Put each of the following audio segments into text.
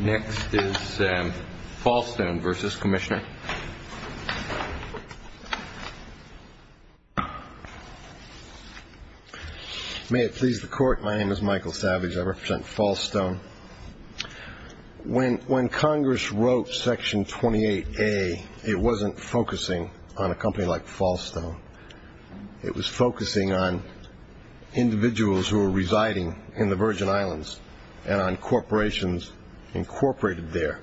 Next is Fallstone v. Commissioner. May it please the Court, my name is Michael Savage. I represent Fallstone. When Congress wrote Section 28A, it wasn't focusing on a company like Fallstone. It was focusing on individuals who were residing in the Virgin Islands and on corporations incorporated there.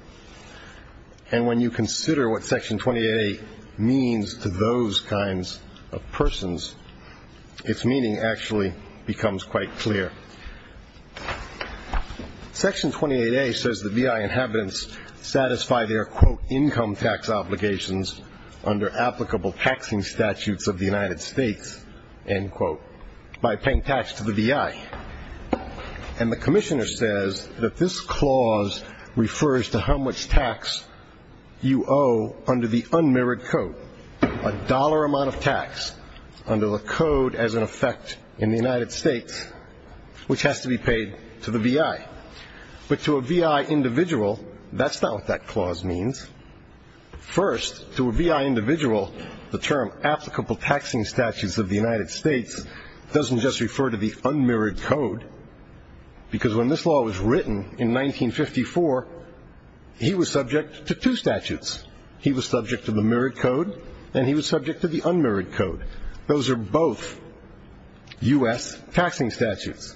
And when you consider what Section 28A means to those kinds of persons, its meaning actually becomes quite clear. Section 28A says the VI inhabitants satisfy their, quote, income tax obligations under applicable taxing statutes of the United States, end quote, by paying tax to the VI. And the Commissioner says that this clause refers to how much tax you owe under the unmirrored code. A dollar amount of tax under the code as an effect in the United States, which has to be paid to the VI. But to a VI individual, that's not what that clause means. First, to a VI individual, the term applicable taxing statutes of the United States doesn't just refer to the unmirrored code. Because when this law was written in 1954, he was subject to two statutes. He was subject to the mirrored code, and he was subject to the unmirrored code. Those are both U.S. taxing statutes.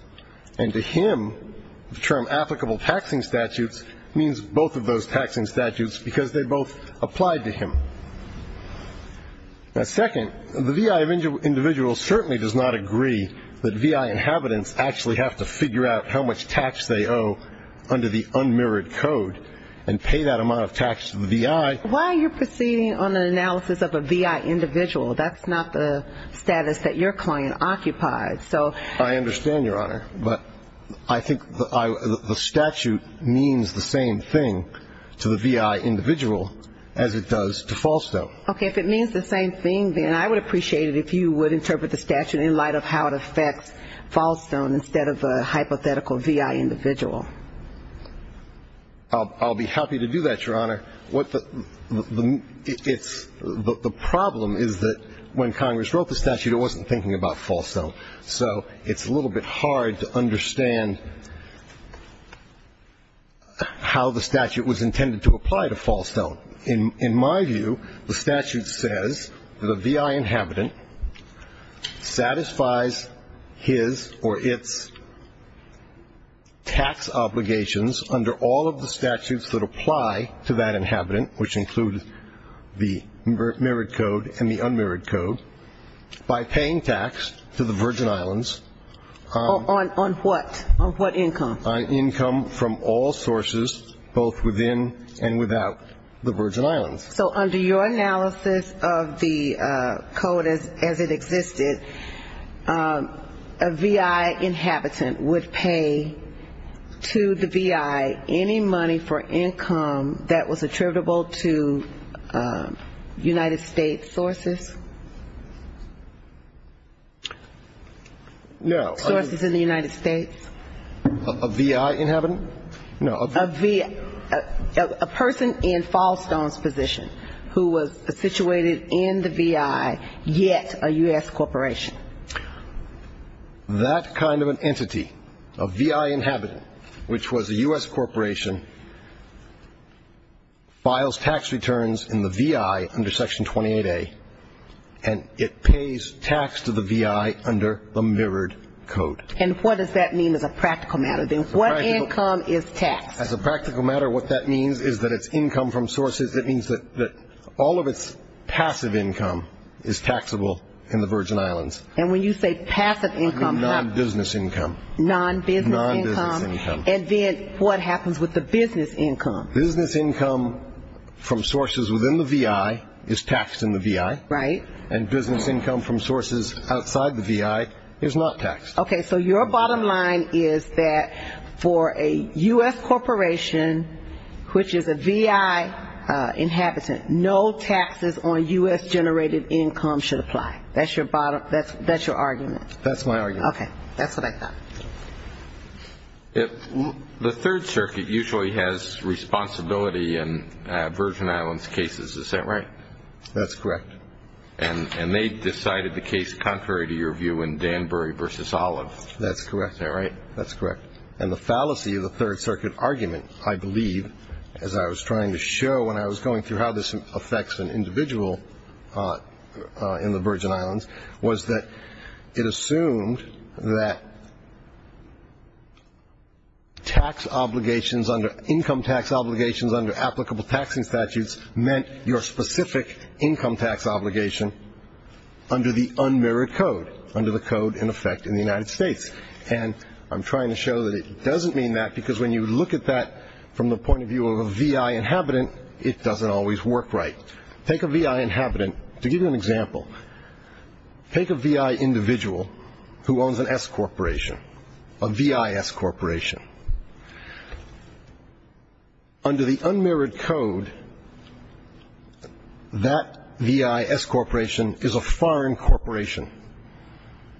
And to him, the term applicable taxing statutes means both of those taxing statutes because they both applied to him. Now, second, the VI individual certainly does not agree that VI inhabitants actually have to figure out how much tax they owe under the unmirrored code and pay that amount of tax to the VI. Why are you proceeding on an analysis of a VI individual? That's not the status that your client occupied. I understand, Your Honor. But I think the statute means the same thing to the VI individual as it does to Falstone. Okay. If it means the same thing, then I would appreciate it if you would interpret the statute in light of how it affects Falstone instead of a hypothetical VI individual. I'll be happy to do that, Your Honor. The problem is that when Congress wrote the statute, it wasn't thinking about Falstone. So it's a little bit hard to understand how the statute was intended to apply to Falstone. In my view, the statute says that a VI inhabitant satisfies his or its tax obligations under all of the statutes that apply to that inhabitant, which include the mirrored code and the unmirrored code, by paying tax to the Virgin Islands. On what? On what income? On income from all sources, both within and without the Virgin Islands. So under your analysis of the code as it existed, a VI inhabitant would pay to the VI any money for income that was attributable to United States sources? No. Sources in the United States? A VI inhabitant? No. A person in Falstone's position who was situated in the VI, yet a U.S. corporation. That kind of an entity, a VI inhabitant, which was a U.S. corporation, files tax returns in the VI under Section 28A, and it pays tax to the VI under the mirrored code. And what does that mean as a practical matter? Then what income is taxed? As a practical matter, what that means is that it's income from sources. It means that all of its passive income is taxable in the Virgin Islands. And when you say passive income, how? Non-business income. Non-business income. Non-business income. And then what happens with the business income? Business income from sources within the VI is taxed in the VI. Right. And business income from sources outside the VI is not taxed. Okay. So your bottom line is that for a U.S. corporation, which is a VI inhabitant, no taxes on U.S.-generated income should apply. That's your argument. That's my argument. Okay. That's what I thought. The Third Circuit usually has responsibility in Virgin Islands cases. Is that right? That's correct. And they decided the case contrary to your view in Danbury v. Olive. That's correct. Is that right? That's correct. And the fallacy of the Third Circuit argument, I believe, as I was trying to show when I was going through how this affects an individual in the Virgin Islands, was that it assumed that income tax obligations under applicable taxing statutes meant your specific income tax obligation under the unmerit code, under the code in effect in the United States. And I'm trying to show that it doesn't mean that, because when you look at that from the point of view of a VI inhabitant, it doesn't always work right. Take a VI inhabitant. To give you an example, take a VI individual who owns an S corporation, a VIS corporation. Under the unmerit code, that VIS corporation is a foreign corporation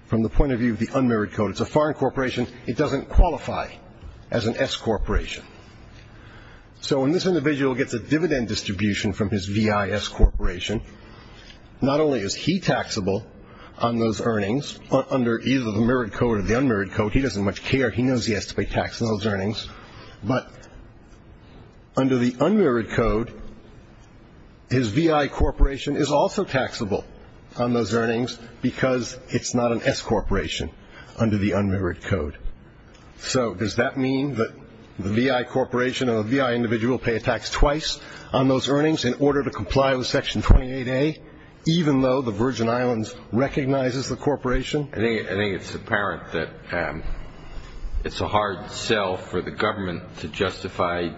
from the point of view of the unmerit code. It's a foreign corporation. It doesn't qualify as an S corporation. So when this individual gets a dividend distribution from his VIS corporation, not only is he taxable on those earnings under either the merit code or the unmerit code, he doesn't much care. He knows he has to pay tax on those earnings. But under the unmerit code, his VI corporation is also taxable on those earnings, because it's not an S corporation under the unmerit code. So does that mean that the VI corporation and the VI individual pay a tax twice on those earnings in order to comply with Section 28A, even though the Virgin Islands recognizes the corporation? I think it's apparent that it's a hard sell for the government to justify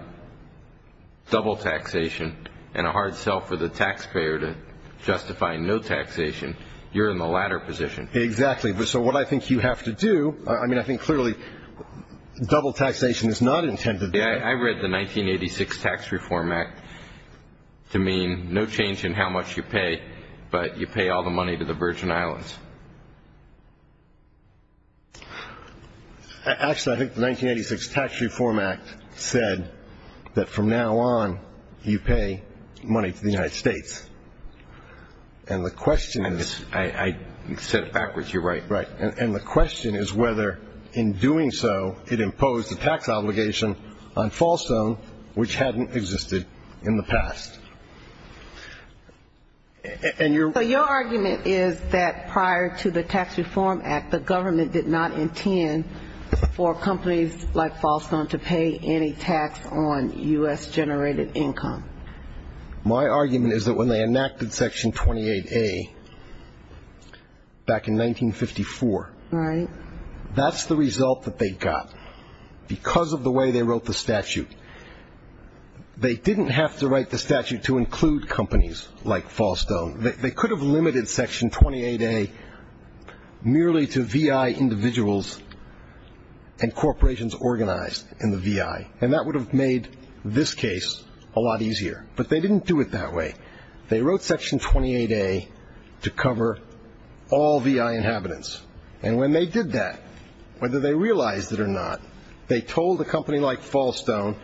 double taxation and a hard sell for the taxpayer to justify no taxation. You're in the latter position. Exactly. So what I think you have to do, I mean, I think clearly double taxation is not intended. I read the 1986 Tax Reform Act to mean no change in how much you pay, but you pay all the money to the Virgin Islands. Actually, I think the 1986 Tax Reform Act said that from now on you pay money to the United States. And the question is. I said it backwards. You're right. Right. And the question is whether in doing so it imposed a tax obligation on Fallstone, which hadn't existed in the past. So your argument is that prior to the Tax Reform Act, the government did not intend for companies like Fallstone to pay any tax on U.S.-generated income. My argument is that when they enacted Section 28A back in 1954. Right. That's the result that they got because of the way they wrote the statute. They didn't have to write the statute to include companies like Fallstone. They could have limited Section 28A merely to VI individuals and corporations organized in the VI, and that would have made this case a lot easier. But they didn't do it that way. They wrote Section 28A to cover all VI inhabitants. And when they did that, whether they realized it or not, they told a company like Fallstone,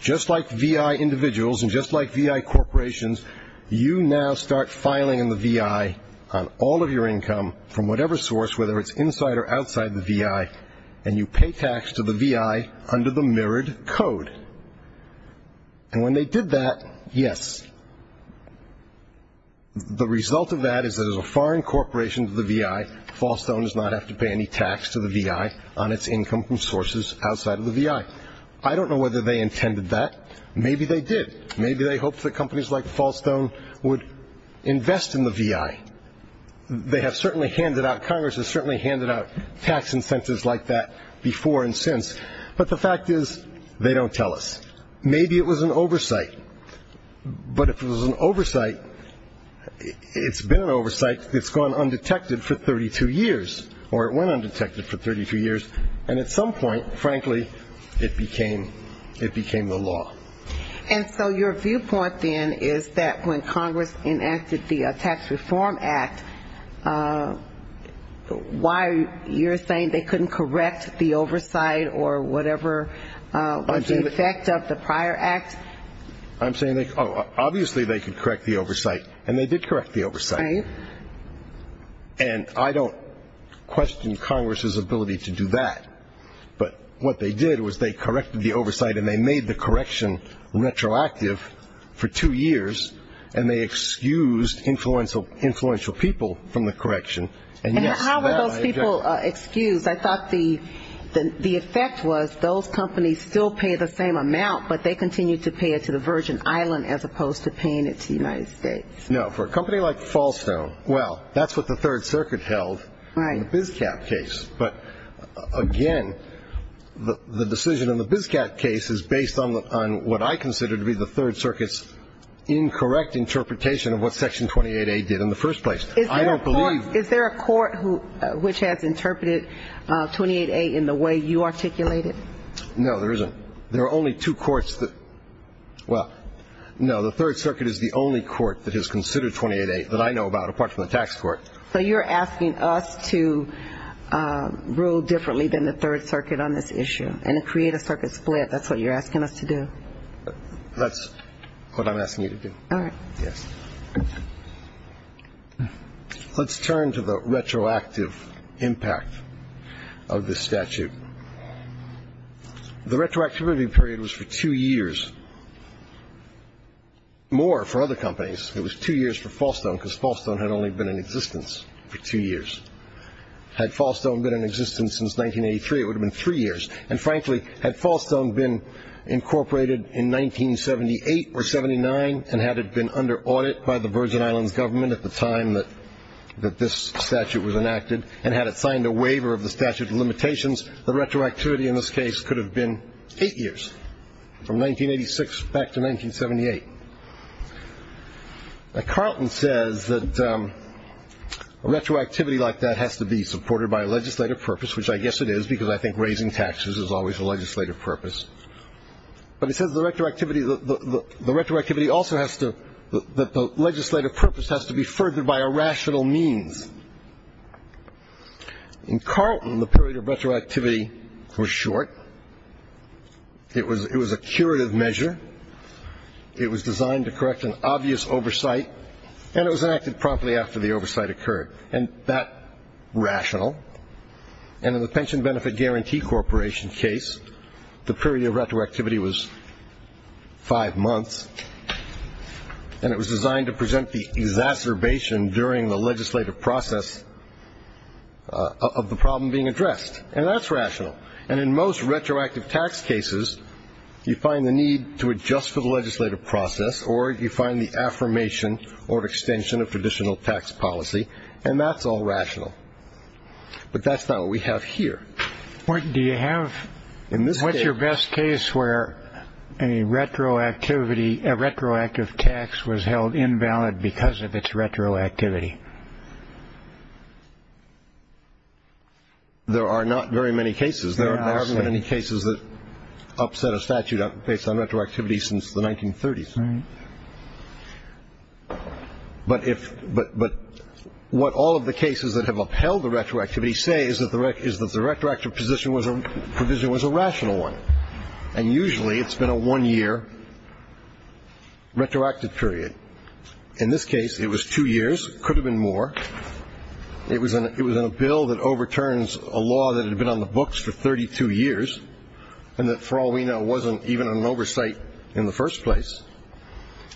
just like VI individuals and just like VI corporations, you now start filing in the VI on all of your income from whatever source, whether it's inside or outside the VI, and you pay tax to the VI under the mirrored code. And when they did that, yes, the result of that is that as a foreign corporation to the VI, Fallstone does not have to pay any tax to the VI on its income from sources outside of the VI. I don't know whether they intended that. Maybe they did. Maybe they hoped that companies like Fallstone would invest in the VI. They have certainly handed out tax incentives like that before and since, but the fact is they don't tell us. Maybe it was an oversight, but if it was an oversight, it's been an oversight. It's gone undetected for 32 years, or it went undetected for 32 years, and at some point, frankly, it became the law. And so your viewpoint, then, is that when Congress enacted the Tax Reform Act, why you're saying they couldn't correct the oversight or whatever was the effect of the prior act? I'm saying obviously they could correct the oversight, and they did correct the oversight. Right. And I don't question Congress's ability to do that, but what they did was they corrected the oversight, and they made the correction retroactive for two years, and they excused influential people from the correction. And how were those people excused? I thought the effect was those companies still pay the same amount, but they continue to pay it to the Virgin Island as opposed to paying it to the United States. Now, for a company like Fallstone, well, that's what the Third Circuit held in the BizCap case. But, again, the decision in the BizCap case is based on what I consider to be the Third Circuit's incorrect interpretation of what Section 28A did in the first place. I don't believe that. Is there a court which has interpreted 28A in the way you articulated? No, there isn't. There are only two courts that – well, no, the Third Circuit is the only court that has considered 28A that I know about, apart from the tax court. So you're asking us to rule differently than the Third Circuit on this issue and create a circuit split. That's what you're asking us to do? That's what I'm asking you to do. All right. Yes. Let's turn to the retroactive impact of this statute. The retroactivity period was for two years, more for other companies. It was two years for Fallstone because Fallstone had only been in existence for two years. Had Fallstone been in existence since 1983, it would have been three years. And, frankly, had Fallstone been incorporated in 1978 or 79, and had it been under audit by the Virgin Islands government at the time that this statute was enacted, and had it signed a waiver of the statute of limitations, the retroactivity in this case could have been eight years, from 1986 back to 1978. Now, Carlton says that a retroactivity like that has to be supported by a legislative purpose, which I guess it is because I think raising taxes is always a legislative purpose. But he says the retroactivity also has to – that the legislative purpose has to be furthered by a rational means. In Carlton, the period of retroactivity was short. It was a curative measure. It was designed to correct an obvious oversight, and it was enacted promptly after the oversight occurred, and that rational. And in the Pension Benefit Guarantee Corporation case, the period of retroactivity was five months, and it was designed to present the exacerbation during the legislative process of the problem being addressed, and that's rational. And in most retroactive tax cases, you find the need to adjust for the legislative process, or you find the affirmation or extension of traditional tax policy, and that's all rational. But that's not what we have here. What's your best case where a retroactive tax was held invalid because of its retroactivity? There are not very many cases. There haven't been any cases that upset a statute based on retroactivity since the 1930s. Right. But what all of the cases that have upheld the retroactivity say is that the retroactive provision was a rational one, and usually it's been a one-year retroactive period. In this case, it was two years. It could have been more. It was in a bill that overturns a law that had been on the books for 32 years and that, for all we know, wasn't even an oversight in the first place.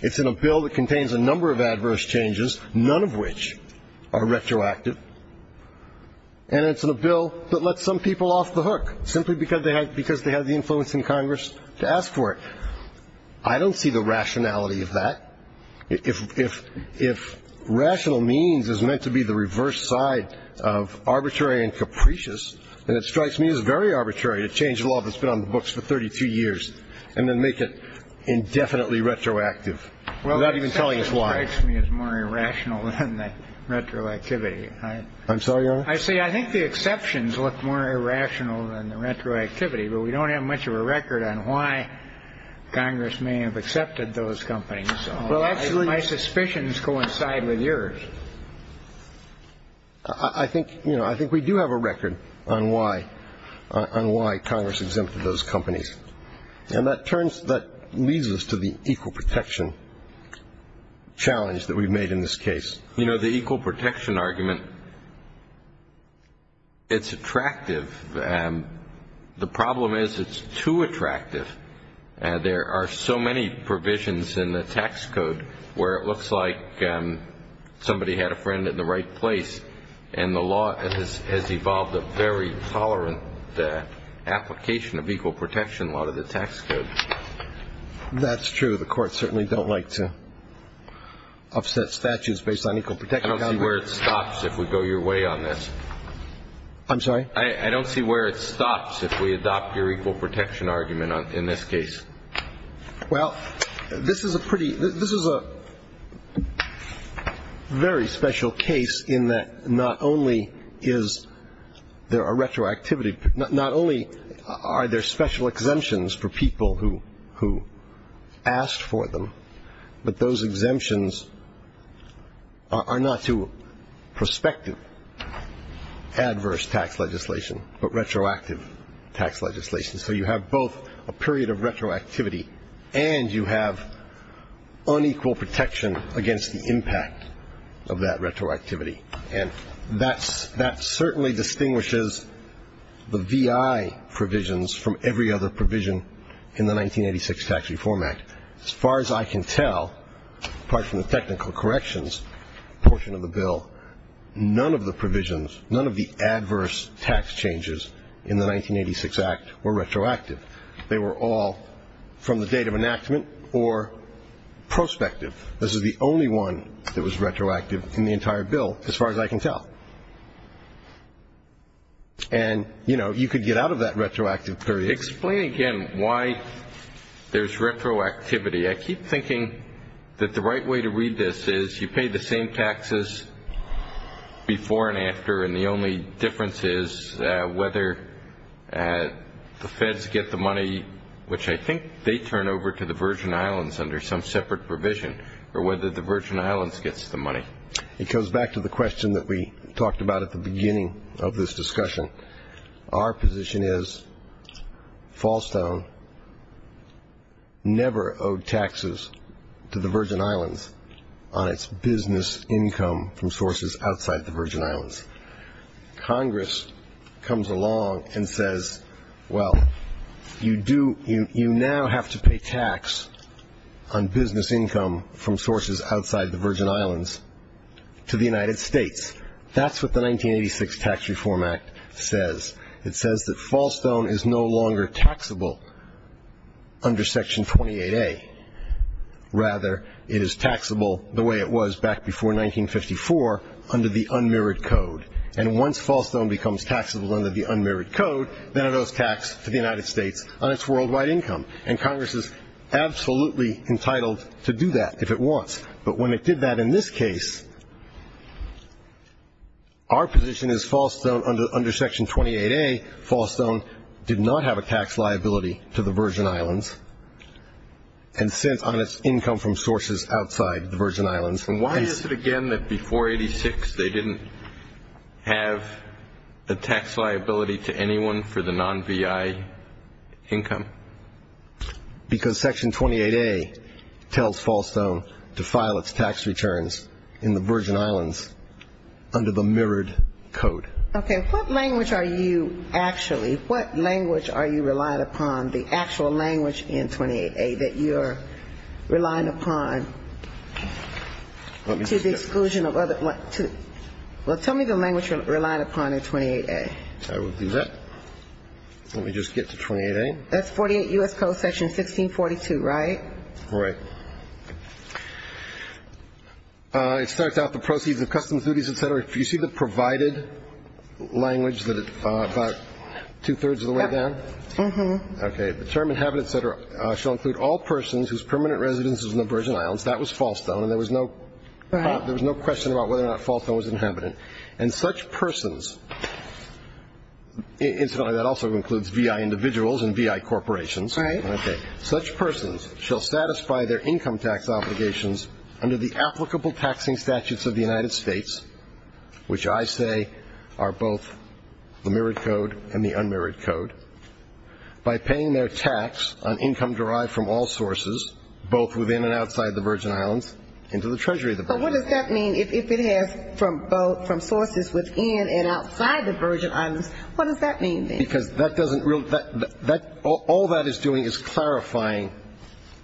It's in a bill that contains a number of adverse changes, none of which are retroactive, and it's in a bill that lets some people off the hook simply because they have the influence in Congress to ask for it. I don't see the rationality of that. If rational means is meant to be the reverse side of arbitrary and capricious, then it strikes me as very arbitrary to change a law that's been on the books for 32 years and then make it indefinitely retroactive without even telling us why. Well, the exception strikes me as more irrational than the retroactivity. I'm sorry, Your Honor? I say I think the exceptions look more irrational than the retroactivity, but we don't have much of a record on why Congress may have accepted those companies. So my suspicions coincide with yours. I think we do have a record on why Congress exempted those companies, and that leads us to the equal protection challenge that we've made in this case. You know, the equal protection argument, it's attractive. The problem is it's too attractive. There are so many provisions in the tax code where it looks like somebody had a friend in the right place, and the law has evolved a very tolerant application of equal protection law to the tax code. That's true. The courts certainly don't like to offset statutes based on equal protection. I don't see where it stops if we go your way on this. I'm sorry? I don't see where it stops if we adopt your equal protection argument in this case. Well, this is a very special case in that not only is there a retroactivity, not only are there special exemptions for people who asked for them, but those exemptions are not to prospective adverse tax legislation, but retroactive tax legislation. So you have both a period of retroactivity, and you have unequal protection against the impact of that retroactivity. And that certainly distinguishes the VI provisions from every other provision in the 1986 Tax Reform Act. As far as I can tell, apart from the technical corrections portion of the bill, none of the provisions, none of the adverse tax changes in the 1986 Act were retroactive. They were all from the date of enactment or prospective. This is the only one that was retroactive in the entire bill, as far as I can tell. And, you know, you could get out of that retroactive period. Explain again why there's retroactivity. I keep thinking that the right way to read this is you pay the same taxes before and after, and the only difference is whether the feds get the money, which I think they turn over to the Virgin Islands under some separate provision, or whether the Virgin Islands gets the money. It goes back to the question that we talked about at the beginning of this discussion. Our position is Fallstone never owed taxes to the Virgin Islands on its business income from sources outside the Virgin Islands. Congress comes along and says, well, you now have to pay tax on business income from sources outside the Virgin Islands to the United States. That's what the 1986 Tax Reform Act says. It says that Fallstone is no longer taxable under Section 28A. Rather, it is taxable the way it was back before 1954 under the unmirrored code. And once Fallstone becomes taxable under the unmirrored code, then it owes tax to the United States on its worldwide income. But when it did that in this case, our position is Fallstone, under Section 28A, Fallstone did not have a tax liability to the Virgin Islands, and since on its income from sources outside the Virgin Islands. And why is it, again, that before 86 they didn't have a tax liability to anyone for the non-VI income? Because Section 28A tells Fallstone to file its tax returns in the Virgin Islands under the mirrored code. Okay. What language are you actually, what language are you relying upon, the actual language in 28A that you're relying upon to the exclusion of other Well, tell me the language you're relying upon in 28A. I will do that. Let me just get to 28A. That's 48 U.S. Code Section 1642, right? Right. It starts out the proceeds of customs duties, et cetera. Do you see the provided language that it's about two-thirds of the way down? Mm-hmm. Okay. The term inhabited, et cetera, shall include all persons whose permanent residence is in the Virgin Islands. That was Fallstone, and there was no question about whether or not Fallstone was inhabited. And such persons, incidentally, that also includes VI individuals and VI corporations. Right. Okay. Such persons shall satisfy their income tax obligations under the applicable taxing statutes of the United States, which I say are both the mirrored code and the unmirrored code, by paying their tax on income derived from all sources, both within and outside the Virgin Islands, into the Treasury of the Virgin Islands. But what does that mean if it has from both, from sources within and outside the Virgin Islands? What does that mean, then? Because that doesn't really, all that is doing is clarifying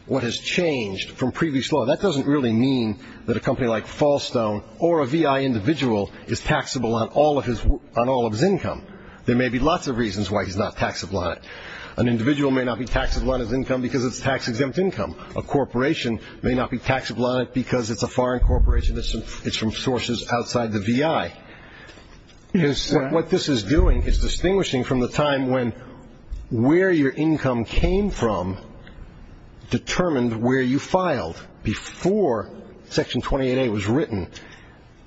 what has changed from previous law. That doesn't really mean that a company like Fallstone or a VI individual is taxable on all of his income. There may be lots of reasons why he's not taxable on it. An individual may not be taxable on his income because it's tax-exempt income. A corporation may not be taxable on it because it's a foreign corporation. It's from sources outside the VI. What this is doing is distinguishing from the time when where your income came from determined where you filed before Section 28A was written.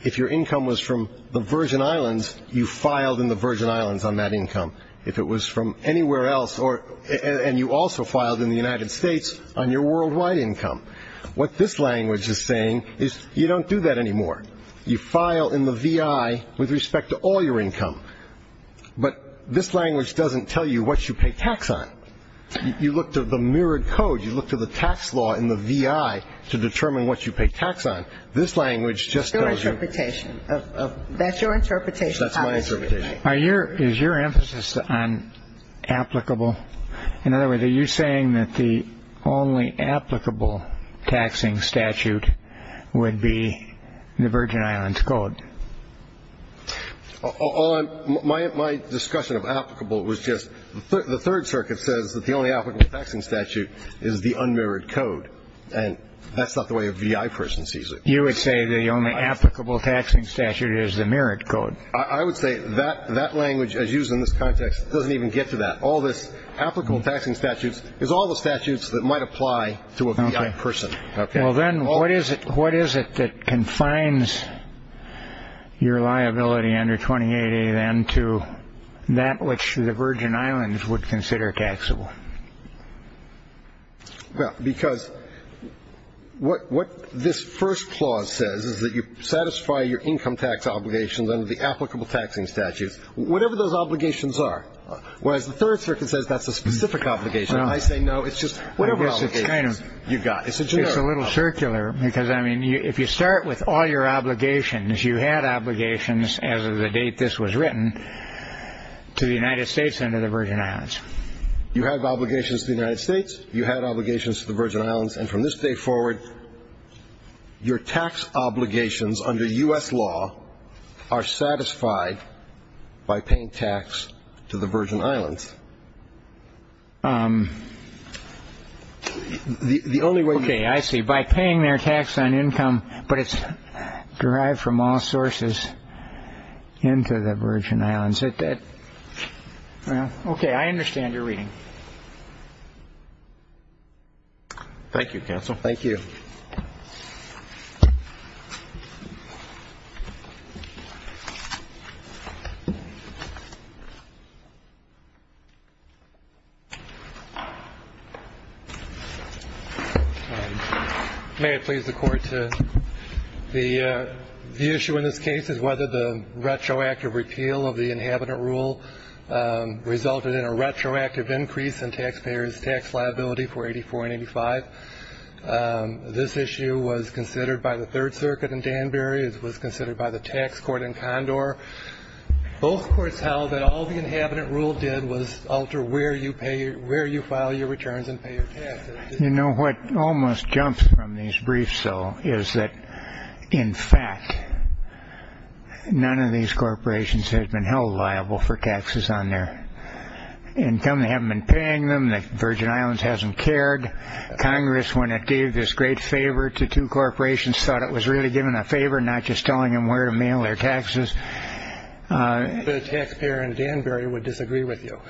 If your income was from the Virgin Islands, you filed in the Virgin Islands on that income. If it was from anywhere else, and you also filed in the United States, on your worldwide income. What this language is saying is you don't do that anymore. You file in the VI with respect to all your income. But this language doesn't tell you what you pay tax on. You look to the mirrored code. You look to the tax law in the VI to determine what you pay tax on. This language just tells you. That's your interpretation. That's my interpretation. Is your emphasis on applicable? In other words, are you saying that the only applicable taxing statute would be the Virgin Islands Code? My discussion of applicable was just the Third Circuit says that the only applicable taxing statute is the unmirrored code. And that's not the way a VI person sees it. You would say the only applicable taxing statute is the mirrored code. I would say that language, as used in this context, doesn't even get to that. All this applicable taxing statute is all the statutes that might apply to a VI person. Well, then what is it that confines your liability under 28A then to that which the Virgin Islands would consider taxable? Because what this first clause says is that you satisfy your income tax obligations under the applicable taxing statutes, whatever those obligations are. Whereas the Third Circuit says that's a specific obligation. I say no. It's just whatever obligations you've got. It's a little circular because, I mean, if you start with all your obligations, you had obligations as of the date this was written to the United States and to the Virgin Islands. You had obligations to the United States. You had obligations to the Virgin Islands. And from this day forward, your tax obligations under U.S. law are satisfied by paying tax to the Virgin Islands. The only way. OK, I see. By paying their tax on income, but it's derived from all sources into the Virgin Islands. Is that that? OK, I understand your reading. Thank you, counsel. Thank you. May it please the Court. The issue in this case is whether the retroactive repeal of the Inhabitant Rule resulted in a retroactive increase in taxpayers' tax liability for 84 and 85. This issue was considered by the Third Circuit in Danbury. It was considered by the tax court in Condor. Both courts held that all the Inhabitant Rule did was alter where you file your returns and pay your taxes. You know, what almost jumps from these briefs, though, is that, in fact, none of these corporations have been held liable for taxes on their income. They haven't been paying them. The Virgin Islands hasn't cared. Congress, when it gave this great favor to two corporations, thought it was really giving a favor, not just telling them where to mail their taxes. The taxpayer in Danbury would disagree with you.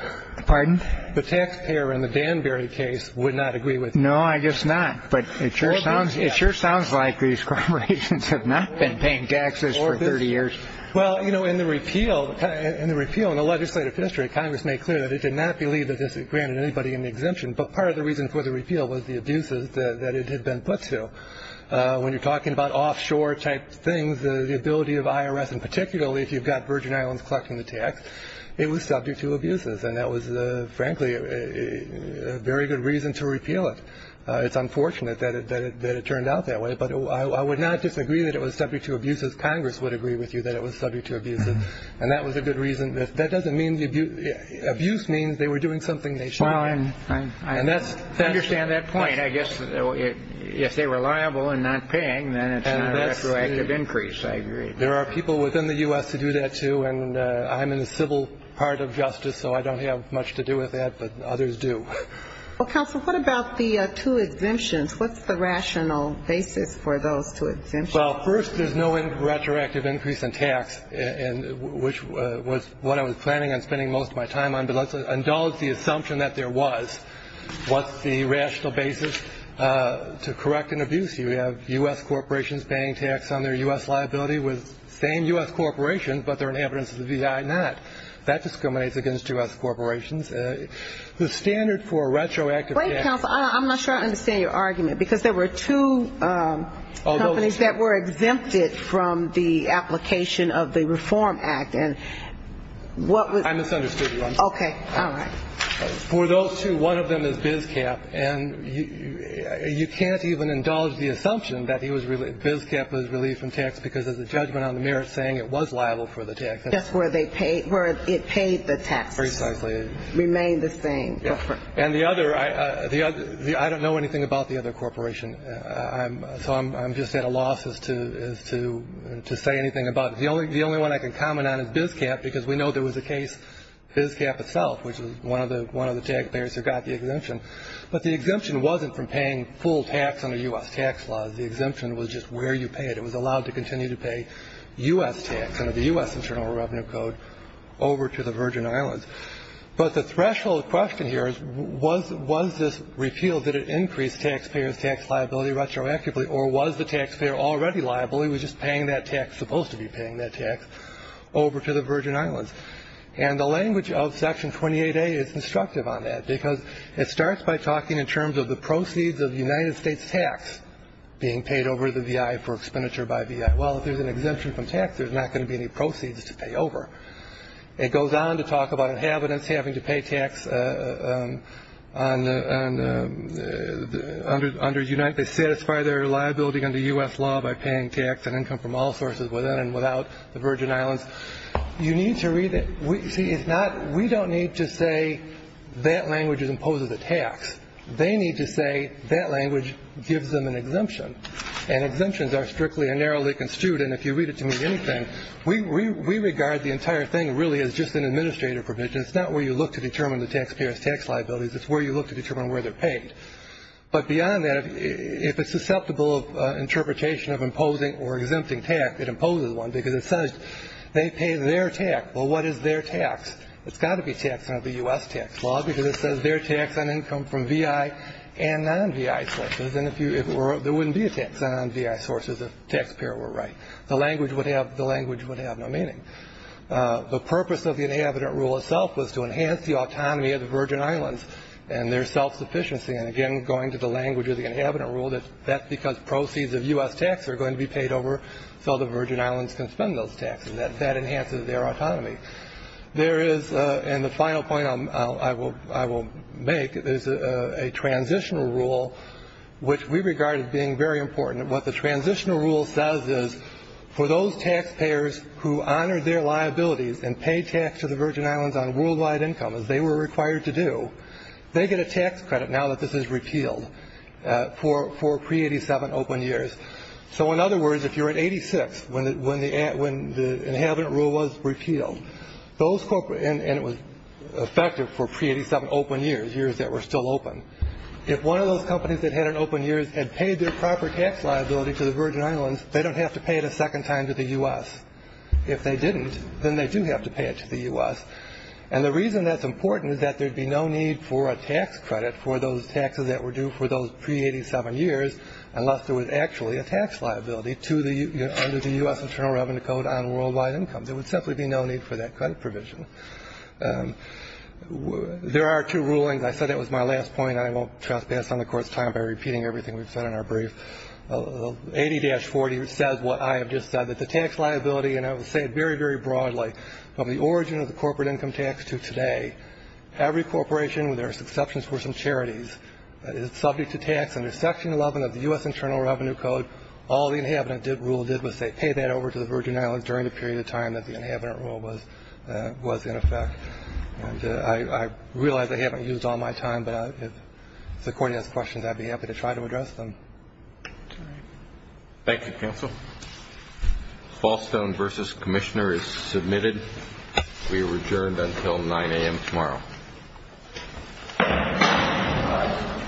Pardon? The taxpayer in the Danbury case would not agree with you. No, I guess not. But it sure sounds like these corporations have not been paying taxes for 30 years. Well, you know, in the repeal, in the repeal in the legislative history, Congress made clear that it did not believe that this granted anybody an exemption. But part of the reason for the repeal was the abuses that it had been put to. When you're talking about offshore type things, the ability of IRS, and particularly if you've got Virgin Islands collecting the tax, it was subject to abuses. And that was, frankly, a very good reason to repeal it. It's unfortunate that it turned out that way. But I would not disagree that it was subject to abuses. Congress would agree with you that it was subject to abuses. And that was a good reason. That doesn't mean the abuse means they were doing something they shouldn't have. I understand that point. I guess if they were liable and not paying, then it's not a retroactive increase. I agree. There are people within the U.S. to do that, too. And I'm in the civil part of justice, so I don't have much to do with that. But others do. Well, counsel, what about the two exemptions? What's the rational basis for those two exemptions? Well, first, there's no retroactive increase in tax, which was what I was planning on spending most of my time on. But let's indulge the assumption that there was. What's the rational basis to correct an abuse? You have U.S. corporations paying tax on their U.S. liability with the same U.S. corporations, but they're an evidence of the V.I. not. That discriminates against U.S. corporations. The standard for a retroactive tax. Wait, counsel, I'm not sure I understand your argument, because there were two companies that were exempted from the application of the Reform Act. I misunderstood you. Okay. All right. For those two, one of them is BizCap. And you can't even indulge the assumption that BizCap was relieved from tax, because there's a judgment on the merits saying it was liable for the tax. That's where it paid the tax. Precisely. Remained the same. And the other, I don't know anything about the other corporation. So I'm just at a loss as to say anything about it. The only one I can comment on is BizCap, because we know there was a case, BizCap itself, which was one of the taxpayers who got the exemption. But the exemption wasn't from paying full tax under U.S. tax laws. The exemption was just where you paid. It was allowed to continue to pay U.S. tax under the U.S. Internal Revenue Code over to the Virgin Islands. But the threshold question here is, was this repeal that it increased taxpayers' tax liability retroactively, or was the taxpayer already liable? He was just paying that tax, supposed to be paying that tax, over to the Virgin Islands. And the language of Section 28A is instructive on that, because it starts by talking in terms of the proceeds of the United States tax being paid over to the VI for expenditure by VI. Well, if there's an exemption from tax, there's not going to be any proceeds to pay over. It goes on to talk about inhabitants having to pay tax under UNITE. They satisfy their liability under U.S. law by paying tax and income from all sources within and without the Virgin Islands. You need to read it. See, it's not we don't need to say that language imposes a tax. They need to say that language gives them an exemption. And exemptions are strictly and narrowly construed, and if you read it to me, anything, we regard the entire thing really as just an administrative provision. It's not where you look to determine the taxpayers' tax liabilities. It's where you look to determine where they're paid. But beyond that, if it's susceptible of interpretation of imposing or exempting tax, it imposes one, because it says they pay their tax. Well, what is their tax? It's got to be taxed under the U.S. tax law, because it says their tax on income from VI and non-VI sources, and there wouldn't be a tax on non-VI sources if taxpayer were right. The language would have no meaning. The purpose of the inhabitant rule itself was to enhance the autonomy of the Virgin Islands and their self-sufficiency, and, again, going to the language of the inhabitant rule, that's because proceeds of U.S. tax are going to be paid over so the Virgin Islands can spend those taxes. That enhances their autonomy. There is, and the final point I will make is a transitional rule, which we regard as being very important. What the transitional rule says is for those taxpayers who honor their liabilities and pay tax to the Virgin Islands on worldwide income, as they were required to do, they get a tax credit now that this is repealed for pre-'87 open years. So, in other words, if you're at 86, when the inhabitant rule was repealed, and it was effective for pre-'87 open years, years that were still open, if one of those companies that had open years had paid their proper tax liability to the Virgin Islands, they don't have to pay it a second time to the U.S. If they didn't, then they do have to pay it to the U.S., and the reason that's important is that there would be no need for a tax credit for those taxes that were due for those pre-'87 years unless there was actually a tax liability under the U.S. Internal Revenue Code on worldwide income. There would simply be no need for that credit provision. There are two rulings. I said that was my last point, and I won't trespass on the Court's time by repeating everything we've said in our brief. 80-40 says what I have just said, that the tax liability, and I will say it very, very broadly, from the origin of the corporate income tax to today, every corporation, with their exceptions for some charities, is subject to tax under Section 11 of the U.S. Internal Revenue Code. All the inhabitant rule did was say pay that over to the Virgin Islands during the period of time that the inhabitant rule was in effect. And I realize I haven't used all my time, but if the Court has questions, I'd be happy to try to address them. Thank you, Counsel. Fall Stone v. Commissioner is submitted. We are adjourned until 9 a.m. tomorrow.